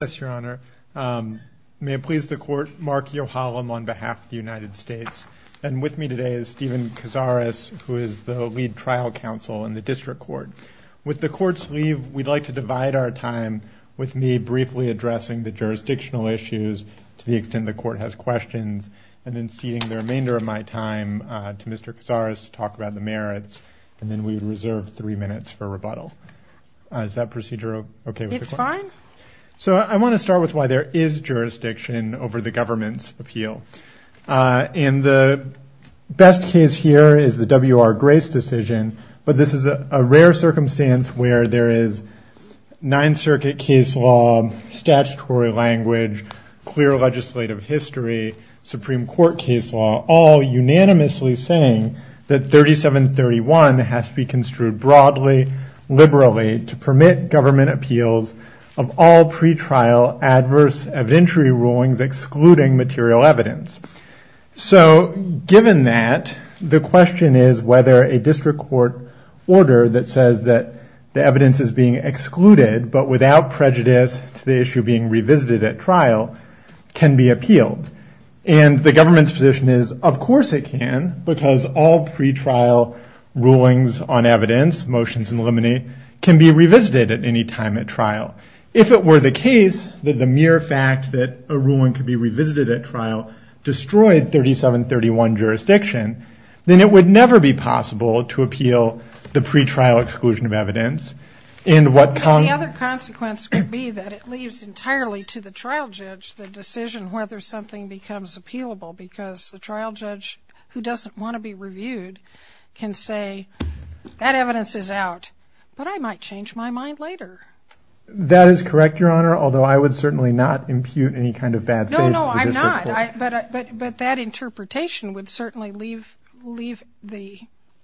Yes, Your Honor. May it please the Court, Mark Yohalam on behalf of the United States, and with me today is Stephen Cazares, who is the lead trial counsel in the District Court. With the Court's leave, we'd like to divide our time with me briefly addressing the jurisdictional issues to the extent the Court has questions, and then ceding the remainder of my time to Mr. Cazares to talk about the merits, and then we reserve three minutes for rebuttal. So I want to start with why there is jurisdiction over the government's appeal, and the best case here is the W.R. Grace decision, but this is a rare circumstance where there is Ninth Circuit case law, statutory language, clear legislative history, Supreme Court case law, all unanimously saying that 3731 has to be construed broadly, liberally, to permit government appeals of all pretrial adverse evidentiary rulings excluding material evidence. So given that, the question is whether a District Court order that says that the evidence is being excluded but without prejudice to the issue being revisited at trial can be appealed. And the government's position is, of course it can, because all pretrial rulings on evidence, motions eliminate, can be revisited at any time at trial. If it were the case that the mere fact that a ruling could be revisited at trial destroyed 3731 jurisdiction, then it would never be possible to appeal the pretrial exclusion of evidence. And the other consequence would be that it leaves entirely to the trial judge the decision whether something becomes appealable, because the trial judge, who doesn't want to be reviewed, can say, that evidence is out, but I might change my mind later. That is correct, Your Honor, although I would certainly not impute any kind of bad faith to the District Court. But that interpretation would certainly leave the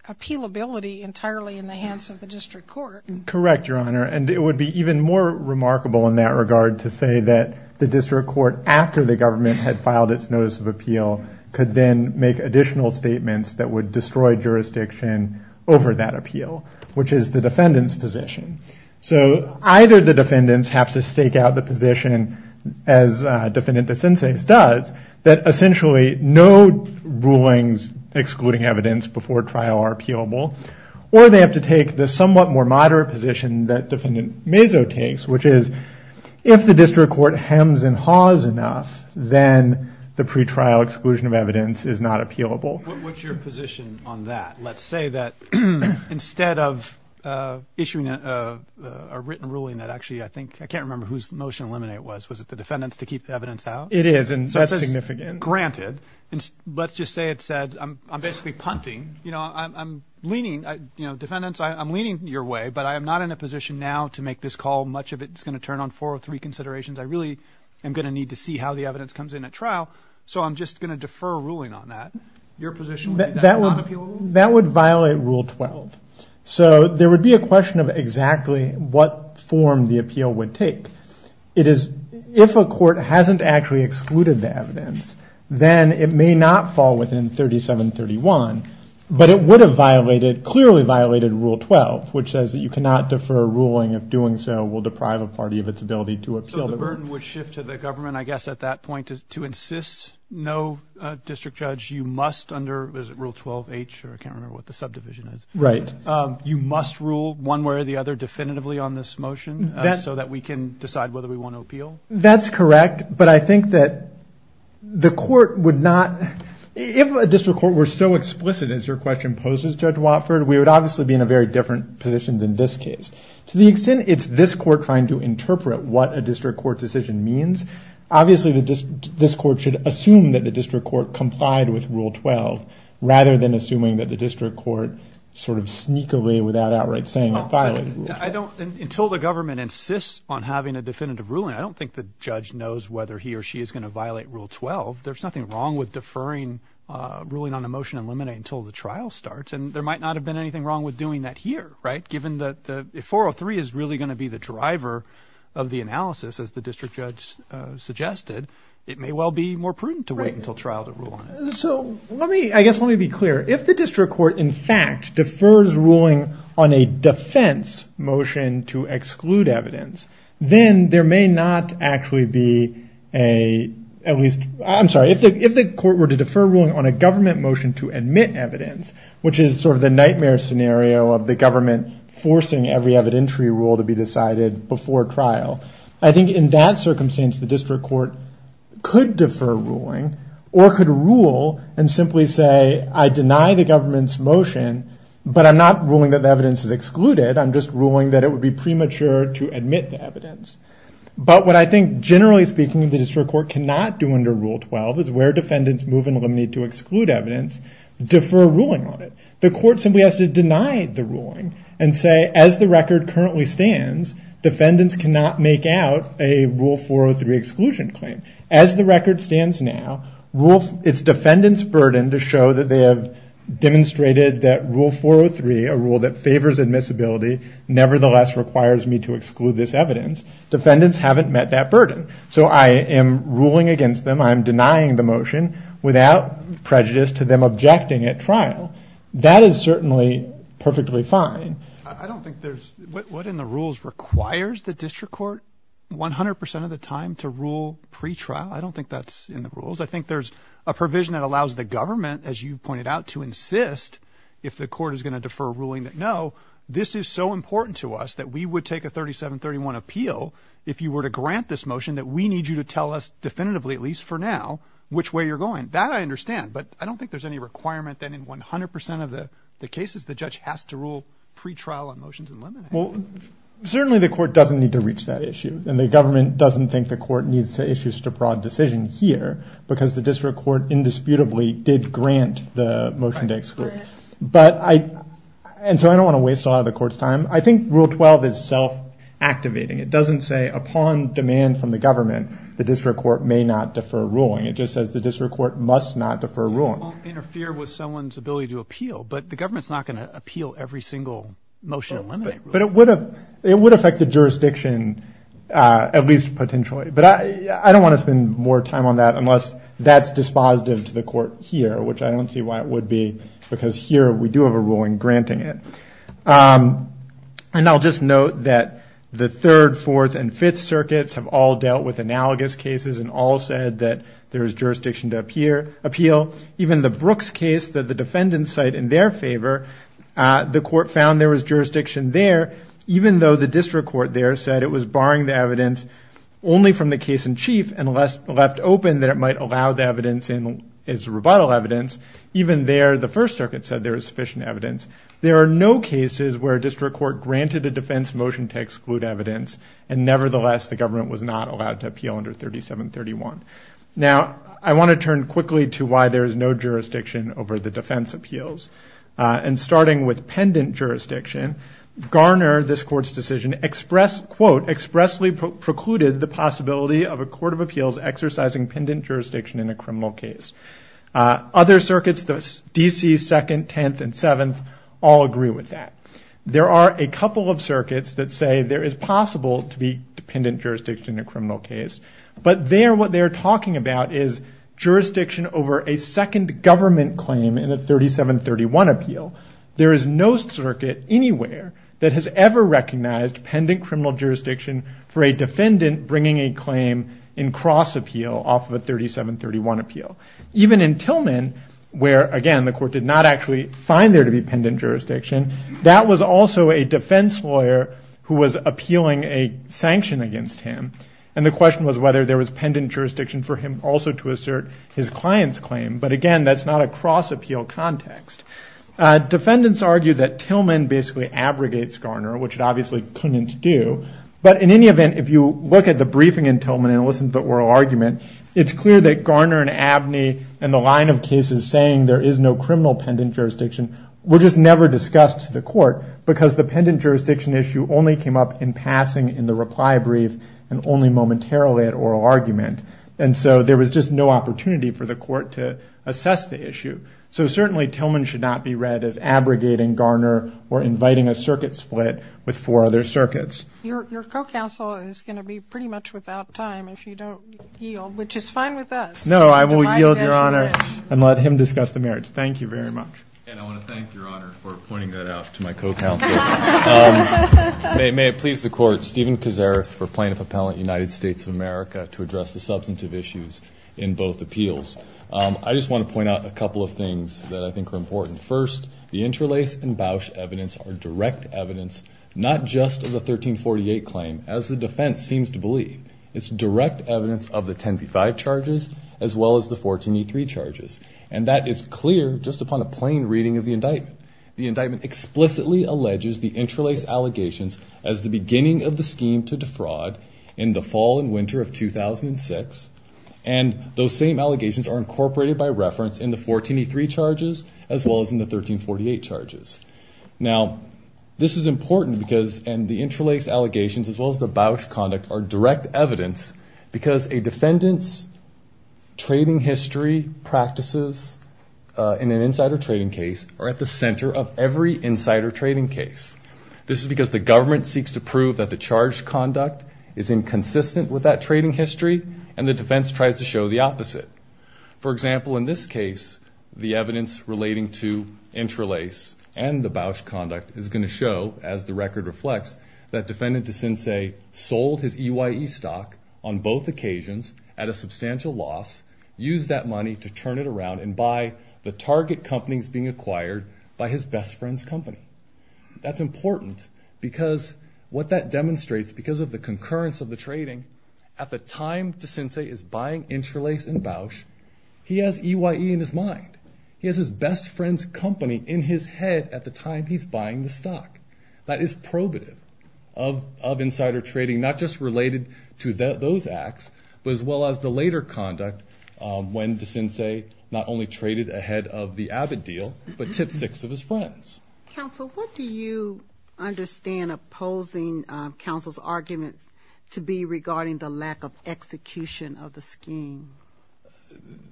appealability entirely in the hands of the District Court. Correct, Your Honor. And it would be even more remarkable in that regard to say that the District Court, after the government had filed its notice of appeal, could then make additional statements that would destroy jurisdiction over that appeal, which is the defendant's position. So either the defendants have to stake out the position, as Defendant DeCense does, that essentially no rulings excluding evidence before trial are appealable, or they have to take the somewhat more moderate position that Defendant Mazo takes, which is if the District Court hems and haws enough, then the pretrial exclusion of evidence is not appealable. What's your position on that? Let's say that instead of issuing a written ruling that actually I think – I can't remember whose motion to eliminate it was. Was it the defendant's to keep the evidence out? It is, and so that's significant. Granted. Let's just say it said I'm basically punting. You know, I'm leaning – you know, defendants, I'm leaning your way, but I am not in a position now to make this call. Much of it is going to turn on four or three considerations. I really am going to need to see how the evidence comes in at trial, so I'm just going to defer a ruling on that. Your position would be that it's not appealable? That would violate Rule 12. So there would be a question of exactly what form the appeal would take. It is – if a court hasn't actually excluded the evidence, then it may not fall within 3731, but it would have violated – clearly violated Rule 12, which says that you cannot defer a ruling if doing so will deprive a party of its ability to appeal. So the burden would shift to the government, I guess, at that point, To insist no district judge, you must under – is it Rule 12H? I can't remember what the subdivision is. Right. You must rule one way or the other definitively on this motion so that we can decide whether we want to appeal? That's correct, but I think that the court would not – if a district court were so explicit as your question poses, Judge Watford, we would obviously be in a very different position than this case. To the extent it's this court trying to interpret what a district court decision means, obviously this court should assume that the district court complied with Rule 12 rather than assuming that the district court sort of sneak away without outright saying it violated Rule 12. I don't – until the government insists on having a definitive ruling, I don't think the judge knows whether he or she is going to violate Rule 12. There's nothing wrong with deferring ruling on a motion and limiting it until the trial starts, and there might not have been anything wrong with doing that here, right, given that if 403 is really going to be the driver of the analysis, as the district judge suggested, it may well be more prudent to wait until trial to rule on it. So let me – I guess let me be clear. If the district court in fact defers ruling on a defense motion to exclude evidence, then there may not actually be a – at least – I'm sorry. If the court were to defer ruling on a government motion to admit evidence, which is sort of the nightmare scenario of the government forcing every evidentiary rule to be decided before trial, I think in that circumstance the district court could defer ruling or could rule and simply say I deny the government's motion, but I'm not ruling that the evidence is excluded. I'm just ruling that it would be premature to admit the evidence. But what I think generally speaking the district court cannot do under Rule 12 is where defendants move and eliminate to exclude evidence, defer ruling on it. The court simply has to deny the ruling and say as the record currently stands, defendants cannot make out a Rule 403 exclusion claim. As the record stands now, it's defendants' burden to show that they have demonstrated that Rule 403, a rule that favors admissibility, nevertheless requires me to exclude this evidence. Defendants haven't met that burden. So I am ruling against them. I'm denying the motion without prejudice to them objecting at trial. That is certainly perfectly fine. I don't think there's – what in the rules requires the district court 100% of the time to rule pretrial? I don't think that's in the rules. I think there's a provision that allows the government, as you pointed out, to insist if the court is going to defer ruling that no, this is so important to us that we would take a 3731 appeal if you were to grant this motion that we need you to tell us definitively, at least for now, which way you're going. That I understand, but I don't think there's any requirement that in 100% of the cases the judge has to rule pretrial on motions and eliminate them. Well, certainly the court doesn't need to reach that issue, and the government doesn't think the court needs to issue such a broad decision here because the district court indisputably did grant the motion to exclude. But I – and so I don't want to waste a lot of the court's time. I think Rule 12 is self-activating. It doesn't say upon demand from the government the district court may not defer ruling. It just says the district court must not defer ruling. It won't interfere with someone's ability to appeal, but the government's not going to appeal every single motion eliminated. But it would affect the jurisdiction, at least potentially. But I don't want to spend more time on that unless that's dispositive to the court here, which I don't see why it would be because here we do have a ruling granting it. And I'll just note that the Third, Fourth, and Fifth Circuits have all dealt with analogous cases and all said that there is jurisdiction to appeal. Even the Brooks case that the defendants cite in their favor, the court found there was jurisdiction there, even though the district court there said it was barring the evidence only from the case in chief and left open that it might allow the evidence as rebuttal evidence, even there the First Circuit said there was sufficient evidence. There are no cases where a district court granted a defense motion to exclude evidence, and nevertheless the government was not allowed to appeal under 3731. Now I want to turn quickly to why there is no jurisdiction over the defense appeals. And starting with pendant jurisdiction, Garner, this court's decision, quote, expressly precluded the possibility of a court of appeals exercising pendant jurisdiction in a criminal case. Other circuits, the D.C. Second, Tenth, and Seventh, all agree with that. There are a couple of circuits that say there is possible to be pendant jurisdiction in a criminal case, but there what they're talking about is jurisdiction over a second government claim in a 3731 appeal. There is no circuit anywhere that has ever recognized pendant criminal jurisdiction for a defendant bringing a claim in cross appeal off of a 3731 appeal. Even in Tillman, where again the court did not actually find there to be pendant jurisdiction, that was also a defense lawyer who was appealing a sanction against him, and the question was whether there was pendant jurisdiction for him also to assert his client's claim. But again, that's not a cross appeal context. Defendants argue that Tillman basically abrogates Garner, which it obviously couldn't do. But in any event, if you look at the briefing in Tillman and listen to the oral argument, it's clear that Garner and Abney and the line of cases saying there is no criminal pendant jurisdiction were just never discussed to the court because the pendant jurisdiction issue only came up in passing in the reply brief and only momentarily at oral argument, and so there was just no opportunity for the court to assess the issue. So certainly Tillman should not be read as abrogating Garner or inviting a circuit split with four other circuits. Your co-counsel is going to be pretty much without time if you don't yield, which is fine with us. No, I will yield, Your Honor, and let him discuss the merits. Thank you very much. And I want to thank Your Honor for pointing that out to my co-counsel. May it please the court, Stephen Kazaris for plaintiff appellant United States of America to address the substantive issues in both appeals. I just want to point out a couple of things that I think are important. First, the interlace and Bausch evidence are direct evidence not just of the 1348 claim, as the defense seems to believe. It's direct evidence of the 10p5 charges as well as the 14e3 charges, and that is clear just upon a plain reading of the indictment. The indictment explicitly alleges the interlace allegations as the beginning of the scheme to defraud in the fall and winter of 2006, and those same allegations are incorporated by reference in the 14e3 charges as well as in the 1348 charges. Now, this is important because the interlace allegations as well as the Bausch conduct are direct evidence because a defendant's trading history practices in an insider trading case are at the center of every insider trading case. This is because the government seeks to prove that the charge conduct is inconsistent with that trading history, and the defense tries to show the opposite. For example, in this case, the evidence relating to interlace and the Bausch conduct is going to show, as the record reflects, that defendant Desense sold his EYE stock on both occasions at a substantial loss, used that money to turn it around and buy the target companies being acquired by his best friend's company. That's important because what that demonstrates, because of the concurrence of the trading, at the time Desense is buying interlace and Bausch, he has EYE in his mind. He has his best friend's company in his head at the time he's buying the stock. That is probative of insider trading, not just related to those acts, but as well as the later conduct when Desense not only traded ahead of the Abbott deal, but tip six of his friends. Counsel, what do you understand opposing counsel's arguments to be regarding the lack of execution of the scheme?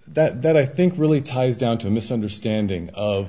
That, I think, really ties down to a misunderstanding of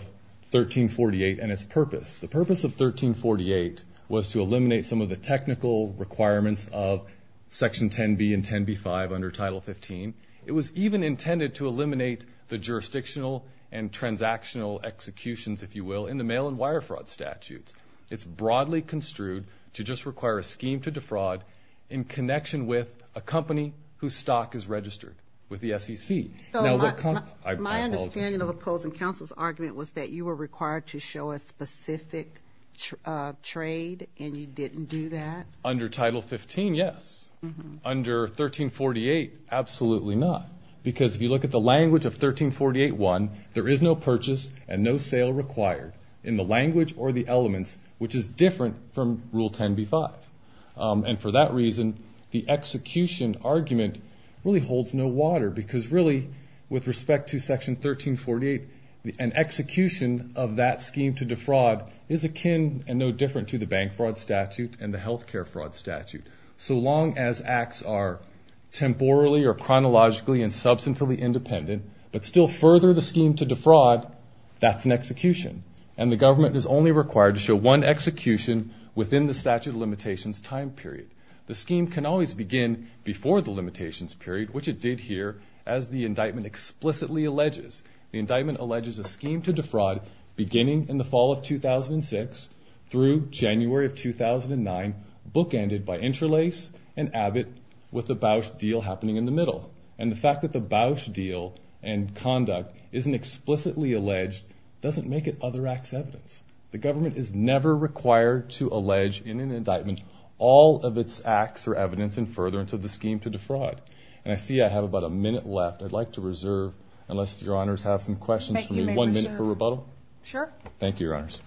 1348 and its purpose. The purpose of 1348 was to eliminate some of the technical requirements of Section 10B and 10B-3, 5 under Title 15. It was even intended to eliminate the jurisdictional and transactional executions, if you will, in the mail and wire fraud statutes. It's broadly construed to just require a scheme to defraud in connection with a company whose stock is registered with the SEC. My understanding of opposing counsel's argument was that you were required to show a specific trade and you didn't do that? Under Title 15, yes. Under 1348, absolutely not, because if you look at the language of 1348-1, there is no purchase and no sale required in the language or the elements, which is different from Rule 10B-5. And for that reason, the execution argument really holds no water, because really, with respect to Section 1348, an execution of that scheme to defraud is akin and no different to the bank fraud statute and the health care fraud statute. So long as acts are temporally or chronologically and substantively independent, but still further the scheme to defraud, that's an execution. And the government is only required to show one execution within the statute of limitations time period. The scheme can always begin before the limitations period, which it did here, as the indictment explicitly alleges. The indictment alleges a scheme to defraud beginning in the fall of 2006 through January of 2009, bookended by Interlace and Abbott, with the Bausch deal happening in the middle. And the fact that the Bausch deal and conduct isn't explicitly alleged doesn't make it other acts evidence. The government is never required to allege in an indictment all of its acts or evidence in furtherance of the scheme to defraud. And I see I have about a minute left. I'd like to reserve, unless Your Honors have some questions for me, one minute for rebuttal. Thank you, Your Honors.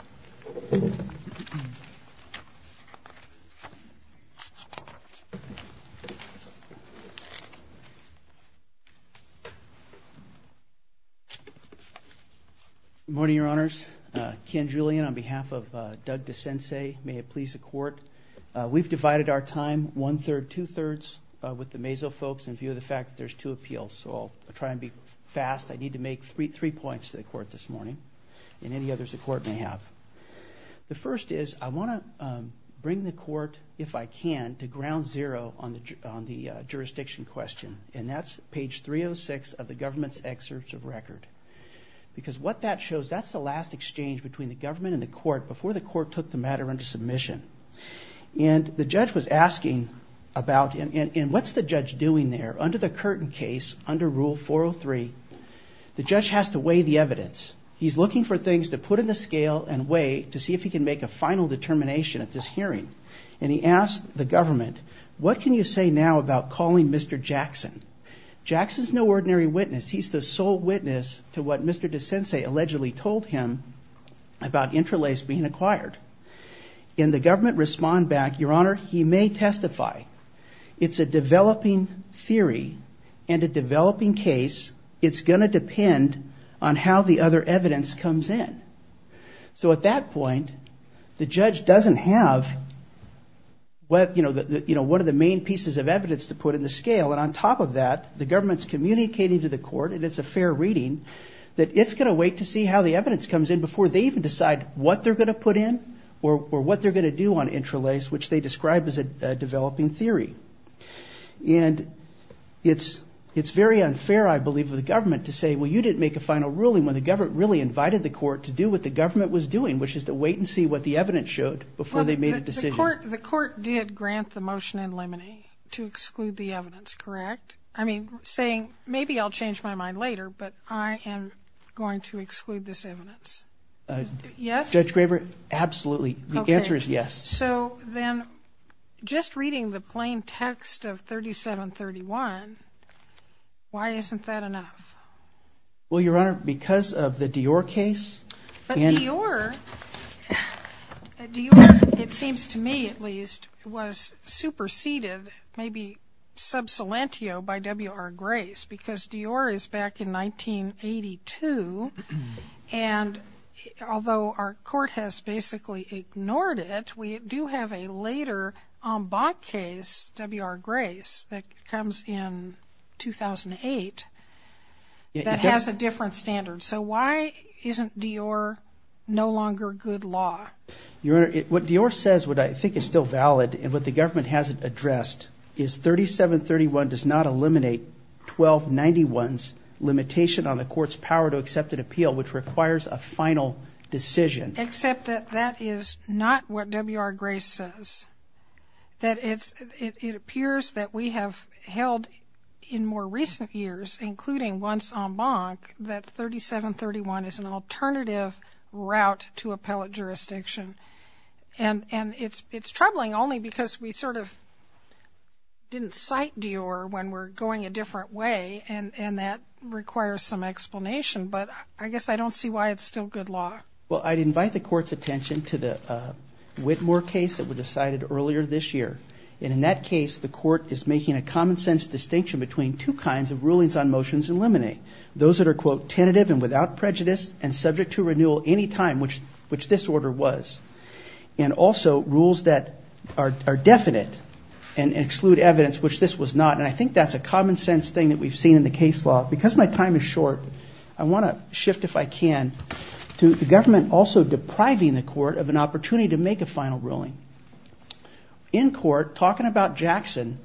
Good morning, Your Honors. Ken Julian on behalf of Doug DeCense, may it please the Court. We've divided our time one-third, two-thirds with the mazo folks in view of the fact that there's two appeals. So I'll try and be fast. I need to make three points to the Court this morning, and any others the Court may have. The first is I want to bring the Court, if I can, to ground zero on the jurisdiction question. And that's page 306 of the government's excerpts of record. Because what that shows, that's the last exchange between the government and the Court before the Court took the matter under submission. And the judge was asking about, and what's the judge doing there? Under the Curtin case, under Rule 403, the judge has to weigh the evidence. He's looking for things to put in the scale and weigh to see if he can make a final determination at this hearing. And he asked the government, what can you say now about calling Mr. Jackson? Jackson's no ordinary witness. He's the sole witness to what Mr. DeCense allegedly told him about interlaced being acquired. And the government responded back, Your Honor, he may testify. It's a developing theory and a developing case. It's going to depend on how the other evidence comes in. So at that point, the judge doesn't have what, you know, one of the main pieces of evidence to put in the scale. And on top of that, the government's communicating to the Court, and it's a fair reading, that it's going to wait to see how the evidence comes in before they even decide what they're going to put in or what they're going to do on interlaced, which they described as a developing theory. And it's very unfair, I believe, for the government to say, well, you didn't make a final ruling when the government really invited the court to do what the government was doing, which is to wait and see what the evidence showed before they made a decision. The court did grant the motion in limine to exclude the evidence, correct? I mean, saying maybe I'll change my mind later, but I am going to exclude this evidence. Yes? Judge Graber, absolutely. The answer is yes. So then just reading the plain text of 3731, why isn't that enough? Well, Your Honor, because of the Dior case. But Dior, it seems to me at least, was superseded, maybe sub salantio by W.R. Although our court has basically ignored it, we do have a later en bas case, W.R. Grace, that comes in 2008, that has a different standard. So why isn't Dior no longer good law? Your Honor, what Dior says, what I think is still valid, and what the government hasn't addressed, is 3731 does not eliminate 1291's limitation on the court's power to accept an appeal, which requires a final decision. Except that that is not what W.R. Grace says. It appears that we have held in more recent years, including once en banc, that 3731 is an alternative route to appellate jurisdiction. And it's troubling only because we sort of didn't cite Dior when we're going a different way, and that requires some explanation. But I guess I don't see why it's still good law. Well, I'd invite the court's attention to the Whitmore case that was decided earlier this year. And in that case, the court is making a common sense distinction between two kinds of rulings on motions to eliminate. Those that are, quote, tentative and without prejudice, and subject to renewal any time, which this order was. And also rules that are definite and exclude evidence, which this was not. And I think that's a common sense thing that we've seen in the case law. Because my time is short, I want to shift, if I can, to the government also depriving the court of an opportunity to make a final ruling. In court, talking about Jackson,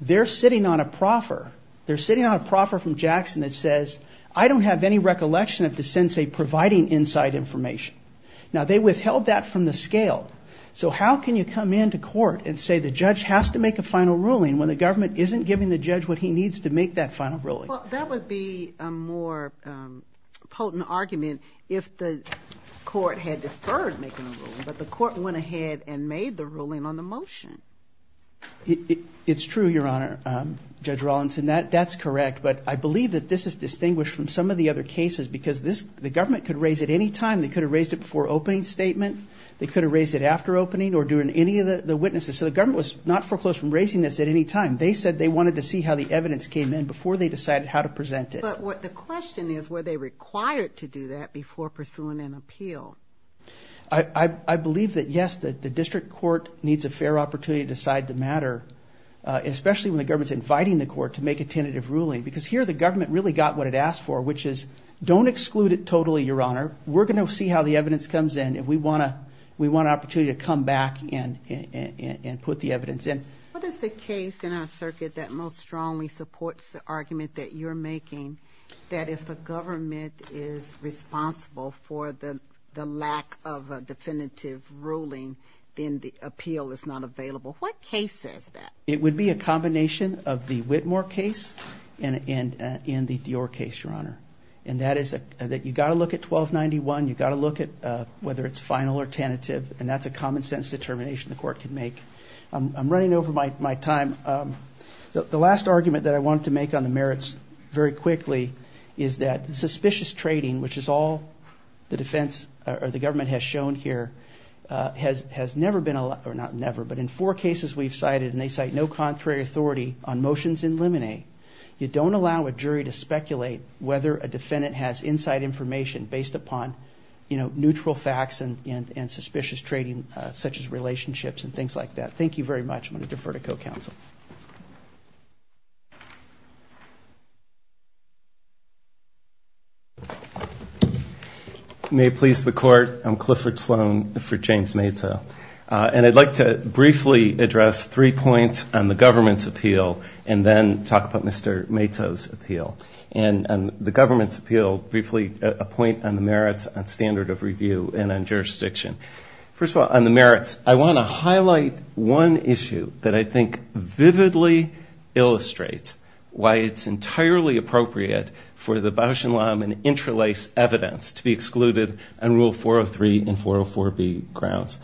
they're sitting on a proffer. They're sitting on a proffer from Jackson that says, I don't have any recollection of the sensei providing inside information. Now, they withheld that from the scale. So how can you come into court and say the judge has to make a final ruling when the government isn't giving the judge what he needs to make that final ruling? Well, that would be a more potent argument if the court had deferred making a ruling, but the court went ahead and made the ruling on the motion. It's true, Your Honor. Judge Rawlinson, that's correct. But I believe that this is distinguished from some of the other cases because the government could raise it any time. They could have raised it before opening statement. They could have raised it after opening or during any of the witnesses. So the government was not foreclosed from raising this at any time. They said they wanted to see how the evidence came in before they decided how to present it. But the question is, were they required to do that before pursuing an appeal? I believe that, yes, the district court needs a fair opportunity to decide the matter, especially when the government's inviting the court to make a tentative ruling, because here the government really got what it asked for, which is don't exclude it totally, Your Honor. We're going to see how the evidence comes in if we want an opportunity to come back and put the evidence in. What is the case in our circuit that most strongly supports the argument that you're making that if the government is responsible for the lack of a definitive ruling, then the appeal is not available? What case says that? It would be a combination of the Whitmore case and the Dior case, Your Honor. And that is that you've got to look at 1291. You've got to look at whether it's final or tentative. And that's a common-sense determination the court can make. I'm running over my time. The last argument that I want to make on the merits very quickly is that suspicious trading, which is all the defense or the government has shown here, has never been allowed, or not never, but in four cases we've cited, and they cite no contrary authority on motions in limine. You don't allow a jury to speculate whether a defendant has inside information based upon neutral facts and suspicious trading, such as relationships and things like that. Thank you very much. I'm going to defer to co-counsel. May it please the Court. I'm Clifford Sloan for James Mato. And I'd like to briefly address three points on the government's appeal and then talk about Mr. Mato's appeal. And the government's appeal, briefly a point on the merits, on standard of review, and on jurisdiction. First of all, on the merits, I want to highlight one issue that I think vividly illustrates why it's entirely appropriate for the Bausch and Lomb and interlace evidence to be excluded on Rule 403 and 404B grounds.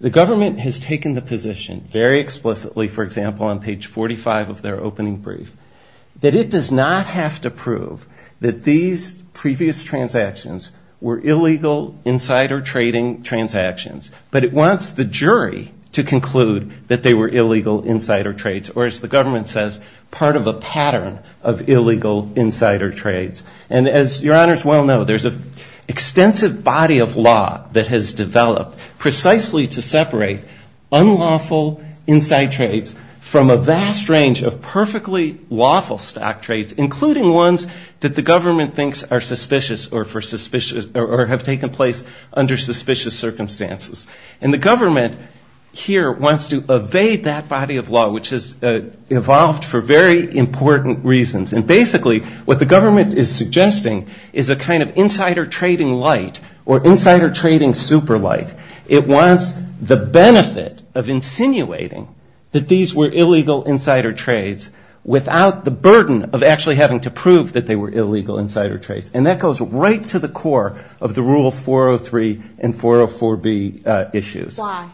The government has taken the position very explicitly, for example, on page 45 of their opening brief, that it does not have to prove that these previous transactions were illegal insider trading transactions, but it wants the jury to conclude that they were illegal insider trades, or as the government says, part of a pattern of illegal insider trades. And as Your Honors well know, there's an extensive body of law that has developed precisely to separate unlawful insider trades from a vast range of perfectly lawful stock trades, including ones that the government thinks are suspicious or have taken place under suspicious circumstances. And the government here wants to evade that body of law, which has evolved for very important reasons. And basically, what the government is suggesting is a kind of insider trading light or insider trading super light. It wants the benefit of insinuating that these were illegal insider trades without the burden of actually having to prove that they were illegal insider trades. And that goes right to the core of the Rule 403 and 404B issues. Why?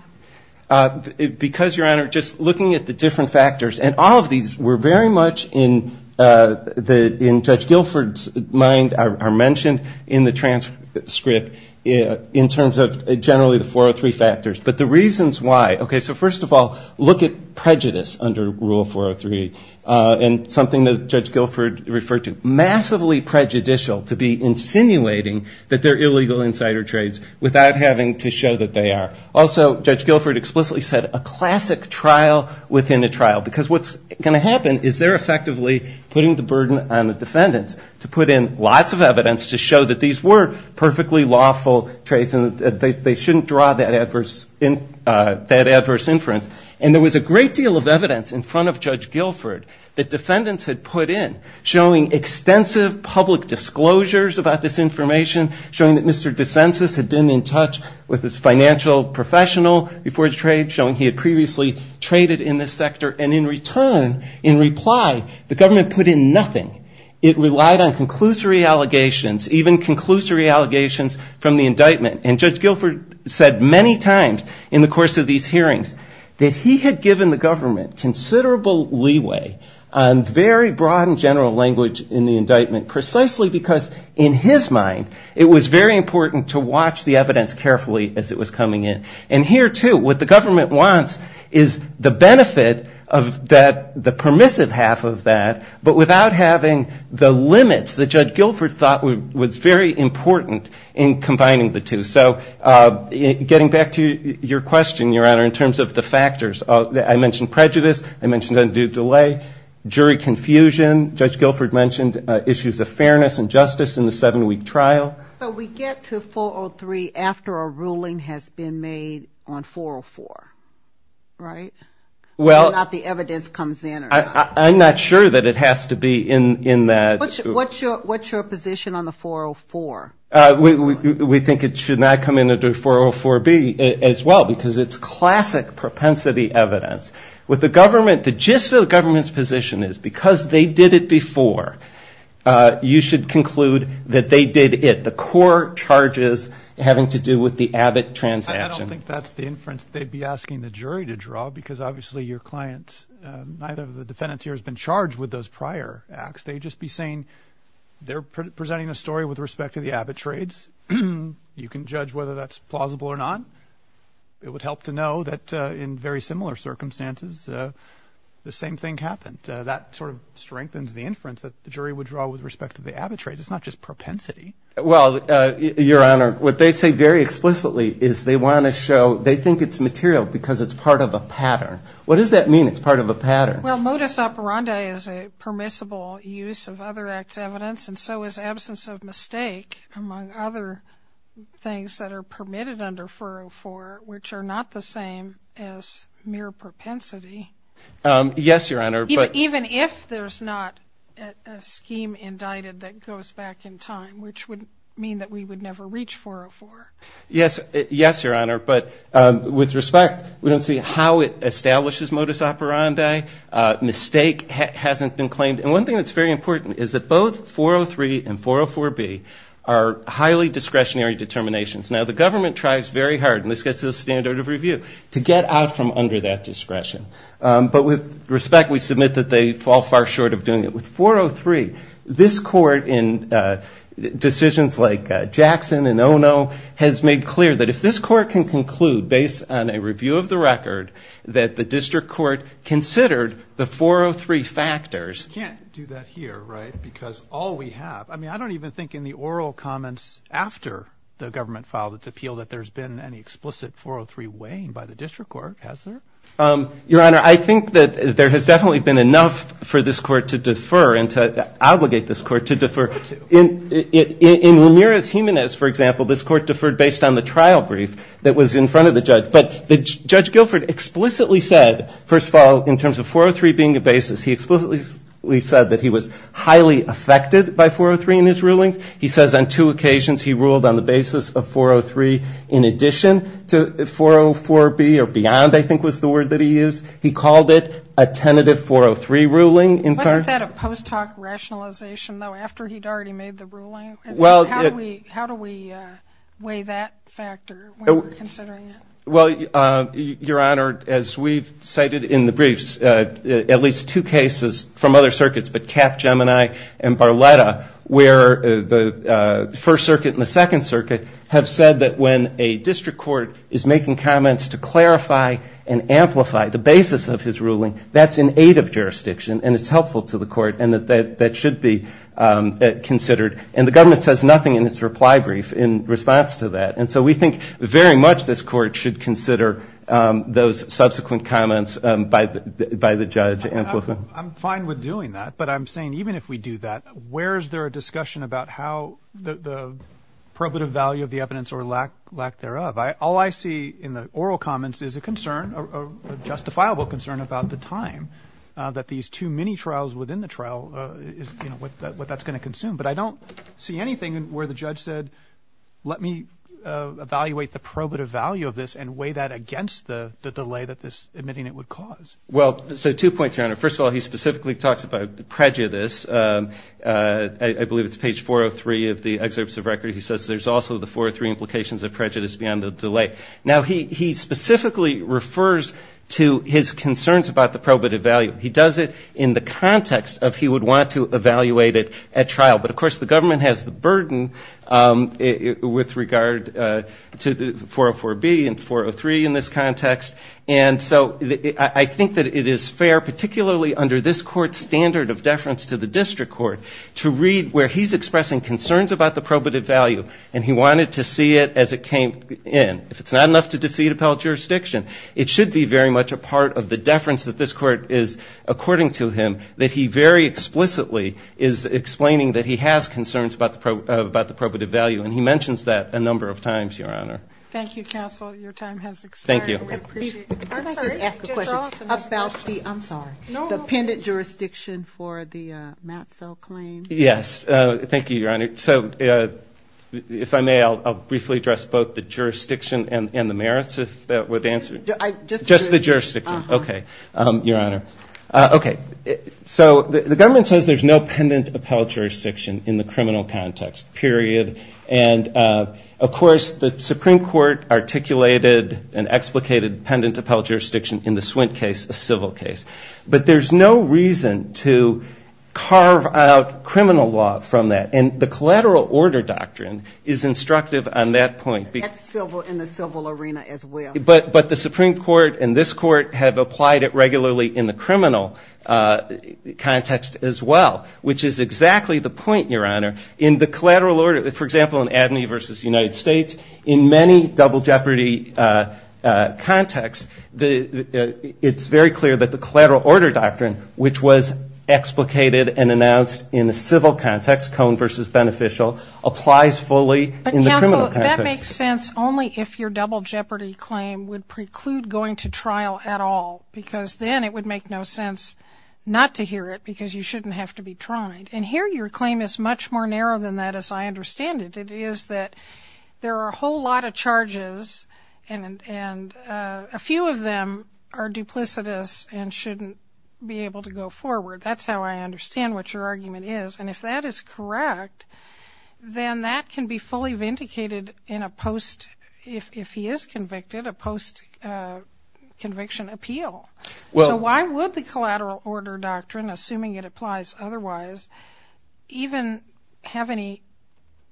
Because, Your Honor, just looking at the different factors, and all of these were very much in Judge Guilford's mind are mentioned in the transcript in terms of generally the 403 factors. But the reasons why, okay, so first of all, look at prejudice under Rule 403. And something that Judge Guilford referred to, massively prejudicial to be insinuating that they're illegal insider trades without having to show that they are. Also, Judge Guilford explicitly said a classic trial within a trial. Because what's going to happen is they're effectively putting the burden on the defendants to put in lots of evidence to show that these were perfectly lawful trades and that they shouldn't draw that adverse inference. And there was a great deal of evidence in front of Judge Guilford that defendants had put in, showing extensive public disclosures about this information, showing that Mr. DeCensus had been in touch with this financial professional before the trade, showing he had previously traded in this sector. And in return, in reply, the government put in nothing. It relied on conclusory allegations, even conclusory allegations from the indictment. And Judge Guilford said many times in the course of these hearings that he had given the government considerable leeway on very broad and general language in the indictment, precisely because in his mind it was very important to watch the evidence carefully as it was coming in. And here, too, what the government wants is the benefit of the permissive half of that, but without having the limits that Judge Guilford thought was very important in combining the two. So getting back to your question, Your Honor, in terms of the factors, I mentioned prejudice, I mentioned undue delay, jury confusion, Judge Guilford mentioned issues of fairness and justice in the seven-week trial. So we get to 403 after a ruling has been made on 404, right? Whether or not the evidence comes in or not. I'm not sure that it has to be in that. What's your position on the 404? We think it should not come in under 404B as well, because it's classic propensity evidence. With the government, the gist of the government's position is because they did it before, you should conclude that they did it, the core charges having to do with the Abbott transaction. I don't think that's the inference they'd be asking the jury to draw, because obviously your client, neither of the defendants here has been charged with those prior acts. They'd just be saying they're presenting a story with respect to the Abbott trades. You can judge whether that's plausible or not. It would help to know that in very similar circumstances, the same thing happened. But that sort of strengthens the inference that the jury would draw with respect to the Abbott trades. It's not just propensity. Well, Your Honor, what they say very explicitly is they want to show they think it's material because it's part of a pattern. What does that mean, it's part of a pattern? Well, modus operandi is a permissible use of other acts of evidence, and so is absence of mistake, among other things that are permitted under 404, which are not the same as mere propensity. Yes, Your Honor. Even if there's not a scheme indicted that goes back in time, which would mean that we would never reach 404. Yes, Your Honor, but with respect, we don't see how it establishes modus operandi. Mistake hasn't been claimed. There are highly discretionary determinations. Now, the government tries very hard, and this gets to the standard of review, to get out from under that discretion. But with respect, we submit that they fall far short of doing it. With 403, this Court, in decisions like Jackson and Ono, has made clear that if this Court can conclude, based on a review of the record, that the district court considered the 403 factors. But we can't do that here, right, because all we have, I mean, I don't even think in the oral comments after the government filed its appeal that there's been any explicit 403 weighing by the district court, has there? Your Honor, I think that there has definitely been enough for this Court to defer and to obligate this Court to defer. In Ramirez-Jimenez, for example, this Court deferred based on the trial brief that was in front of the judge. But Judge Guilford explicitly said, first of all, in terms of 403 being a basis, he explicitly said, that he was highly affected by 403 in his rulings. He says on two occasions he ruled on the basis of 403 in addition to 404B, or beyond, I think was the word that he used. He called it a tentative 403 ruling. Wasn't that a post-talk rationalization, though, after he'd already made the ruling? How do we weigh that factor when we're considering it? Well, Your Honor, as we've cited in the briefs, at least two cases from other circuits, but Cap-Gemini and Barletta, where the First Circuit and the Second Circuit have said that when a district court is making comments to clarify and amplify the basis of his ruling, that's in aid of jurisdiction, and it's helpful to the Court, and that should be considered. And the government says nothing in its reply brief in response to that. And so we think very much this Court should consider those subsequent comments by the judge to amplify. I'm fine with doing that, but I'm saying even if we do that, where is there a discussion about how the probative value of the evidence or lack thereof? All I see in the oral comments is a concern, a justifiable concern, about the time that these two mini-trials within the trial, what that's going to consume. How do we evaluate the probative value of this and weigh that against the delay that this admitting it would cause? Well, so two points, Your Honor. First of all, he specifically talks about prejudice. I believe it's page 403 of the excerpts of record. He says there's also the 403 implications of prejudice beyond the delay. Now, he specifically refers to his concerns about the probative value. He does it in the context of he would want to evaluate it at trial. But, of course, the government has the burden with regard to 404B and 403 in this context. And so I think that it is fair, particularly under this Court's standard of deference to the district court, to read where he's expressing concerns about the probative value, and he wanted to see it as it came in. If it's not enough to defeat appellate jurisdiction, it should be very much a part of the deference that this Court is, according to him, that he very explicitly is explaining that he has concerns about the probative value. And he mentions that a number of times, Your Honor. Thank you, counsel. Your time has expired. Yes. Thank you, Your Honor. So if I may, I'll briefly address both the jurisdiction and the merits, if that would answer. Okay. So the government says there's no pendent appellate jurisdiction in the criminal context, period. And, of course, the Supreme Court articulated and explicated pendent appellate jurisdiction in the Swint case, a civil case. But there's no reason to carve out criminal law from that. And the collateral order doctrine is instructive on that point. That's in the civil arena as well. But the Supreme Court and this Court have applied it regularly in the criminal context as well, which is exactly the point, Your Honor. In the collateral order, for example, in Abney v. United States, in many double jeopardy contexts, it's very clear that the collateral order doctrine, which was explicated and announced in a civil context, Cone v. Beneficial, applies fully in the criminal context. Well, that makes sense only if your double jeopardy claim would preclude going to trial at all. Because then it would make no sense not to hear it because you shouldn't have to be tried. And here your claim is much more narrow than that, as I understand it. It is that there are a whole lot of charges, and a few of them are duplicitous and shouldn't be able to go forward. That's how I understand what your argument is. I mean, if he is convicted, a post-conviction appeal. So why would the collateral order doctrine, assuming it applies otherwise, even have any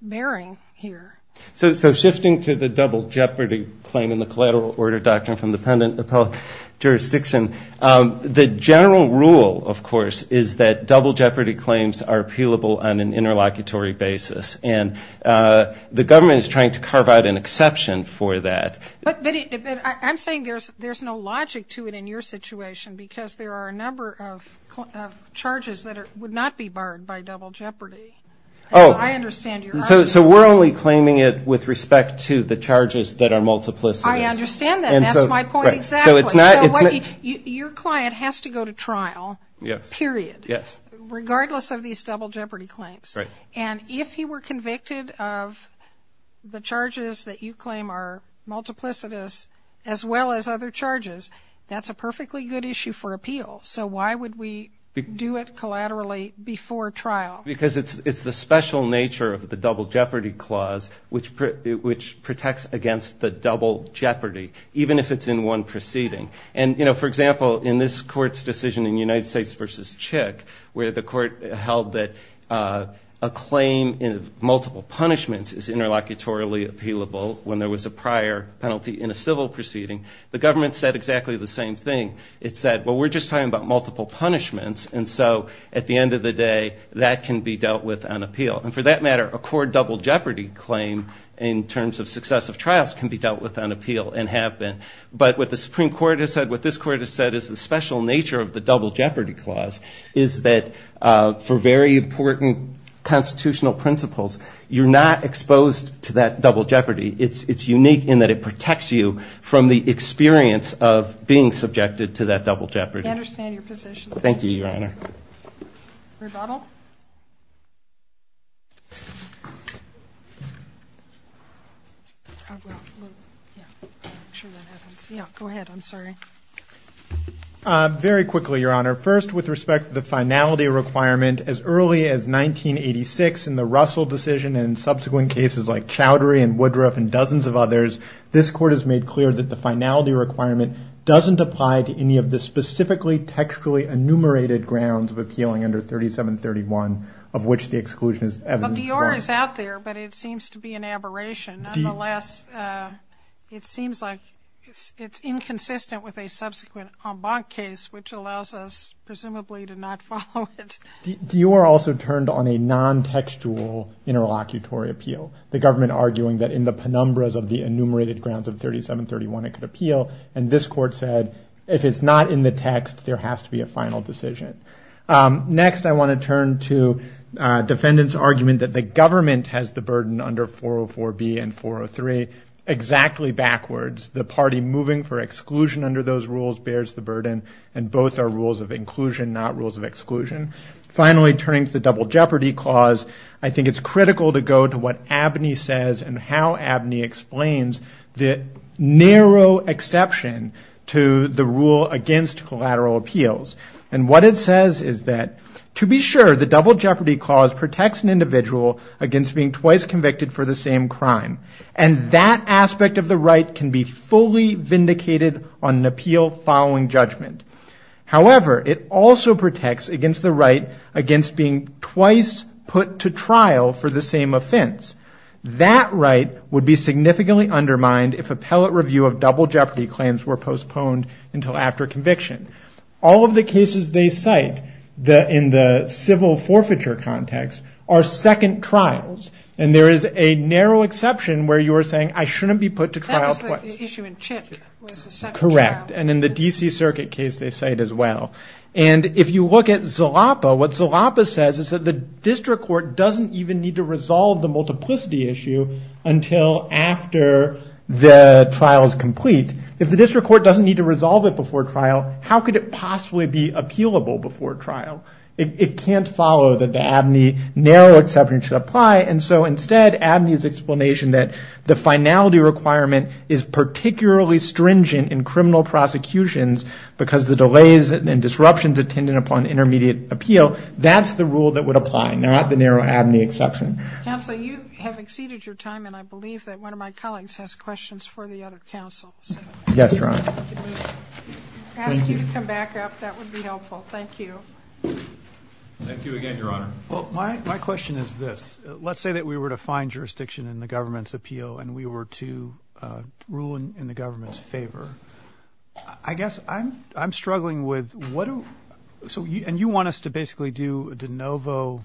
bearing here? So shifting to the double jeopardy claim in the collateral order doctrine from the pendent appellate jurisdiction, the general rule, of course, is that double jeopardy claims are appealable on an interlocutory basis. And the government is trying to carve out an exception for that. But I'm saying there's no logic to it in your situation, because there are a number of charges that would not be barred by double jeopardy, as I understand your argument. So we're only claiming it with respect to the charges that are multiplicitous. I understand that, and that's my point exactly. Your client has to go to trial, period, regardless of these double jeopardy claims. And if he were convicted of the charges that you claim are multiplicitous, as well as other charges, that's a perfectly good issue for appeal. So why would we do it collaterally before trial? Because it's the special nature of the double jeopardy clause, which protects against the double jeopardy, even if it's in one procedure. And, you know, for example, in this court's decision in United States v. Chick, where the court held that a claim in multiple punishments is interlocutorily appealable when there was a prior penalty in a civil proceeding, the government said exactly the same thing. It said, well, we're just talking about multiple punishments, and so at the end of the day, that can be dealt with on appeal. And for that matter, a court double jeopardy claim, in terms of successive trials, can be dealt with on appeal, and have been. But what the Supreme Court has said, what this court has said, is the special nature of the double jeopardy clause, is that for very important constitutional principles, you're not exposed to that double jeopardy. It's unique in that it protects you from the experience of being subjected to that double jeopardy. I understand your position. Thank you, Your Honor. Go ahead, I'm sorry. Very quickly, Your Honor. First, with respect to the finality requirement, as early as 1986 in the Russell decision, and in subsequent cases like Chowdhury and Woodruff and dozens of others, this court has made clear that the finality requirement doesn't apply to any of the specifically textually enumerated grounds of appealing under 3731, of which the exclusion is evident. Well, D.R. is out there, but it seems to be an aberration. It's inconsistent with a subsequent Embank case, which allows us, presumably, to not follow it. D.R. also turned on a non-textual interlocutory appeal, the government arguing that in the penumbras of the enumerated grounds of 3731 it could appeal, and this court said, if it's not in the text, there has to be a final decision. Next, I want to turn to defendants' argument that the government has the burden under 404B and 403 exactly backwards. The party moving for exclusion under those rules bears the burden, and both are rules of inclusion, not rules of exclusion. Finally, turning to the double jeopardy clause, I think it's critical to go to what Abney says and how Abney explains the narrow exception to the rule against collateral appeals. And what it says is that, to be sure, the double jeopardy clause protects an individual against being twice convicted for the same crime, and that aspect of the right can be fully vindicated on an appeal following judgment. However, it also protects against the right against being twice put to trial for the same offense. That right would be significantly undermined if appellate review of double jeopardy claims were postponed until after conviction. All of the cases they cite in the civil forfeiture context are second trials, and there is a narrow exception where you are saying, I shouldn't be put to trial twice. Correct. And in the D.C. Circuit case, they say it as well. And if you look at Zalapa, what Zalapa says is that the district court doesn't even need to resolve the multiplicity issue until after the trial is complete. If the district court doesn't need to resolve it before trial, how could it possibly be appealable before trial? It can't follow that the Abney narrow exception should apply, and so instead Abney's explanation that the finality requirement is particularly stringent in criminal prosecutions because the delays and disruptions attendant upon intermediate appeal, that's the rule that would apply, not the narrow Abney exception. Counsel, you have exceeded your time, and I believe that one of my colleagues has questions for the other counsels. Yes, Your Honor. Can we ask you to come back up? That would be helpful. Thank you. Thank you again, Your Honor. Well, my question is this. Let's say that we were to find jurisdiction in the government's appeal, and we were to rule in the government's favor. I guess I'm struggling with, and you want us to basically do a de novo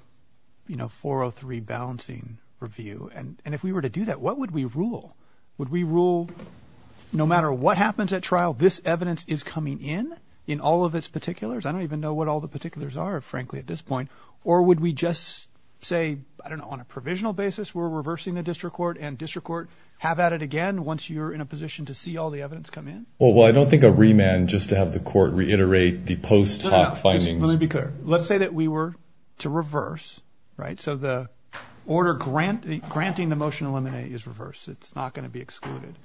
403 balancing review, and if we were to do that, what would we rule? Would we rule, no matter what happens at trial, this evidence is coming in, in all of its particulars? I don't even know what all the particulars are, frankly, at this point, or would we just say, I don't know, on a provisional basis, we're reversing the district court, and district court have at it again once you're in a position to see all the evidence come in? Well, I don't think a remand just to have the court reiterate the post hoc findings. Let me be clear. Let's say that we were to reverse, right, so the order granting the motion to eliminate is reversed. It's not going to be excluded,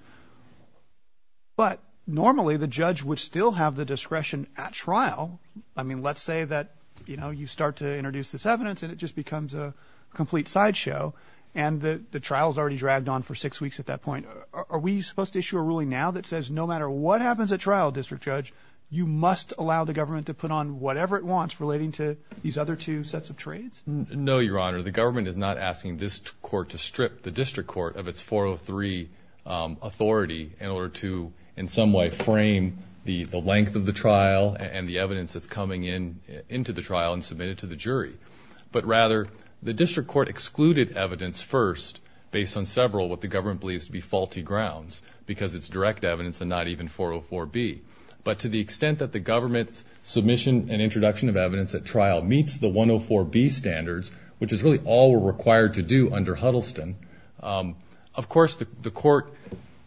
but normally the judge would still have the discretion at trial. I mean, let's say that, you know, you start to introduce this evidence, and it just becomes a complete sideshow, and the trial's already dragged on for six weeks at that point. Are we supposed to issue a ruling now that says no matter what happens at trial, District Judge, you must allow the government to put on whatever it wants relating to these other two sets of trades? No, Your Honor. The government is not asking this court to strip the district court of its 403 authority in order to, in some way, frame the length of the trial and the evidence that's coming in into the trial and submit it to the jury. But rather, the district court excluded evidence first based on several of what the government believes to be faulty grounds, because it's direct evidence and not even 404B. But to the extent that the government's submission and introduction of evidence at trial meets the 104B standards, which is really all we're required to do under Huddleston, of course the court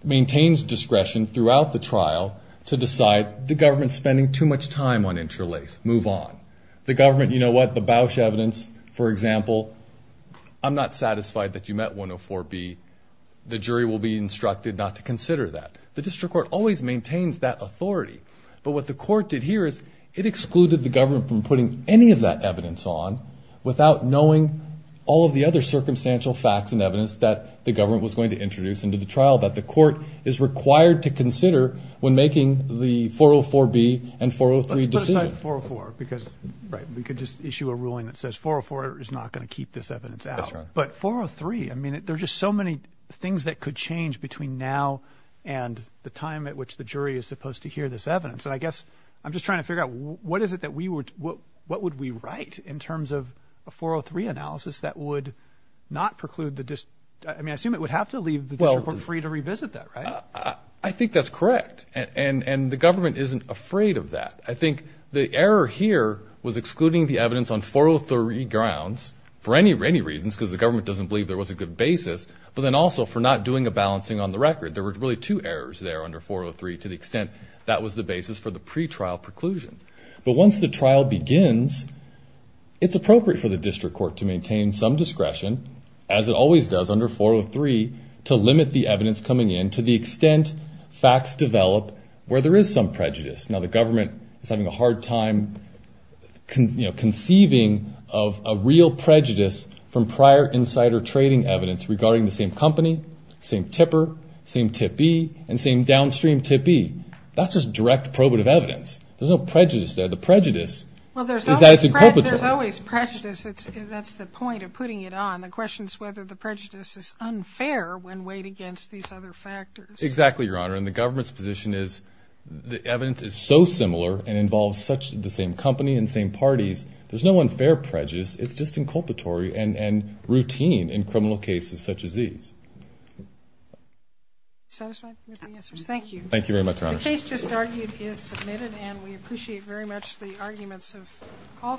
maintains discretion throughout the trial to decide the government's spending too much time on interlace. Move on. The government, you know what, the Bausch evidence, for example, I'm not satisfied that you met 104B. The jury will be instructed not to consider that. The district court always maintains that authority, but what the court did here is it excluded the government from putting any of that evidence on without knowing all of the other circumstantial facts and evidence that the government was going to introduce into the trial that the court is required to consider when making the 404B and 403 decision. Let's put aside 404, because, right, we could just issue a ruling that says 404 is not going to keep this evidence out. But 403, I mean, there's just so many things that could change between now and the time at which the jury is supposed to hear this evidence. And I guess I'm just trying to figure out what is it that we would, what would we write in terms of a 403 analysis that would not preclude the, I mean, I assume it would have to leave the district court free to revisit that, right? I think that's correct. And the government isn't afraid of that. I think the error here was excluding the evidence on 403 grounds for any reasons, because the government doesn't believe there was a good basis, but then also for not doing a balancing on the record. There were really two errors there under 403 to the extent that was the basis for the pretrial preclusion. But once the trial begins, it's appropriate for the district court to maintain some discretion, as it always does under 403, to limit the evidence coming in to the extent facts develop where there is some prejudice. Now, the government is having a hard time conceiving of a real prejudice from prior insider trading evidence regarding the same company, same tipper, same tip B, and same downstream tip B. That's just direct probative evidence. There's no prejudice there. The prejudice is that it's inculpatory. Well, there's always prejudice. That's the point of putting it on. The question is whether the prejudice is unfair when weighed against these other factors. Exactly, Your Honor. And the government's position is the evidence is so similar and involves such the same company and same parties, there's no unfair prejudice. It's just inculpatory and routine in criminal cases such as these. Satisfied with the answers? Thank you.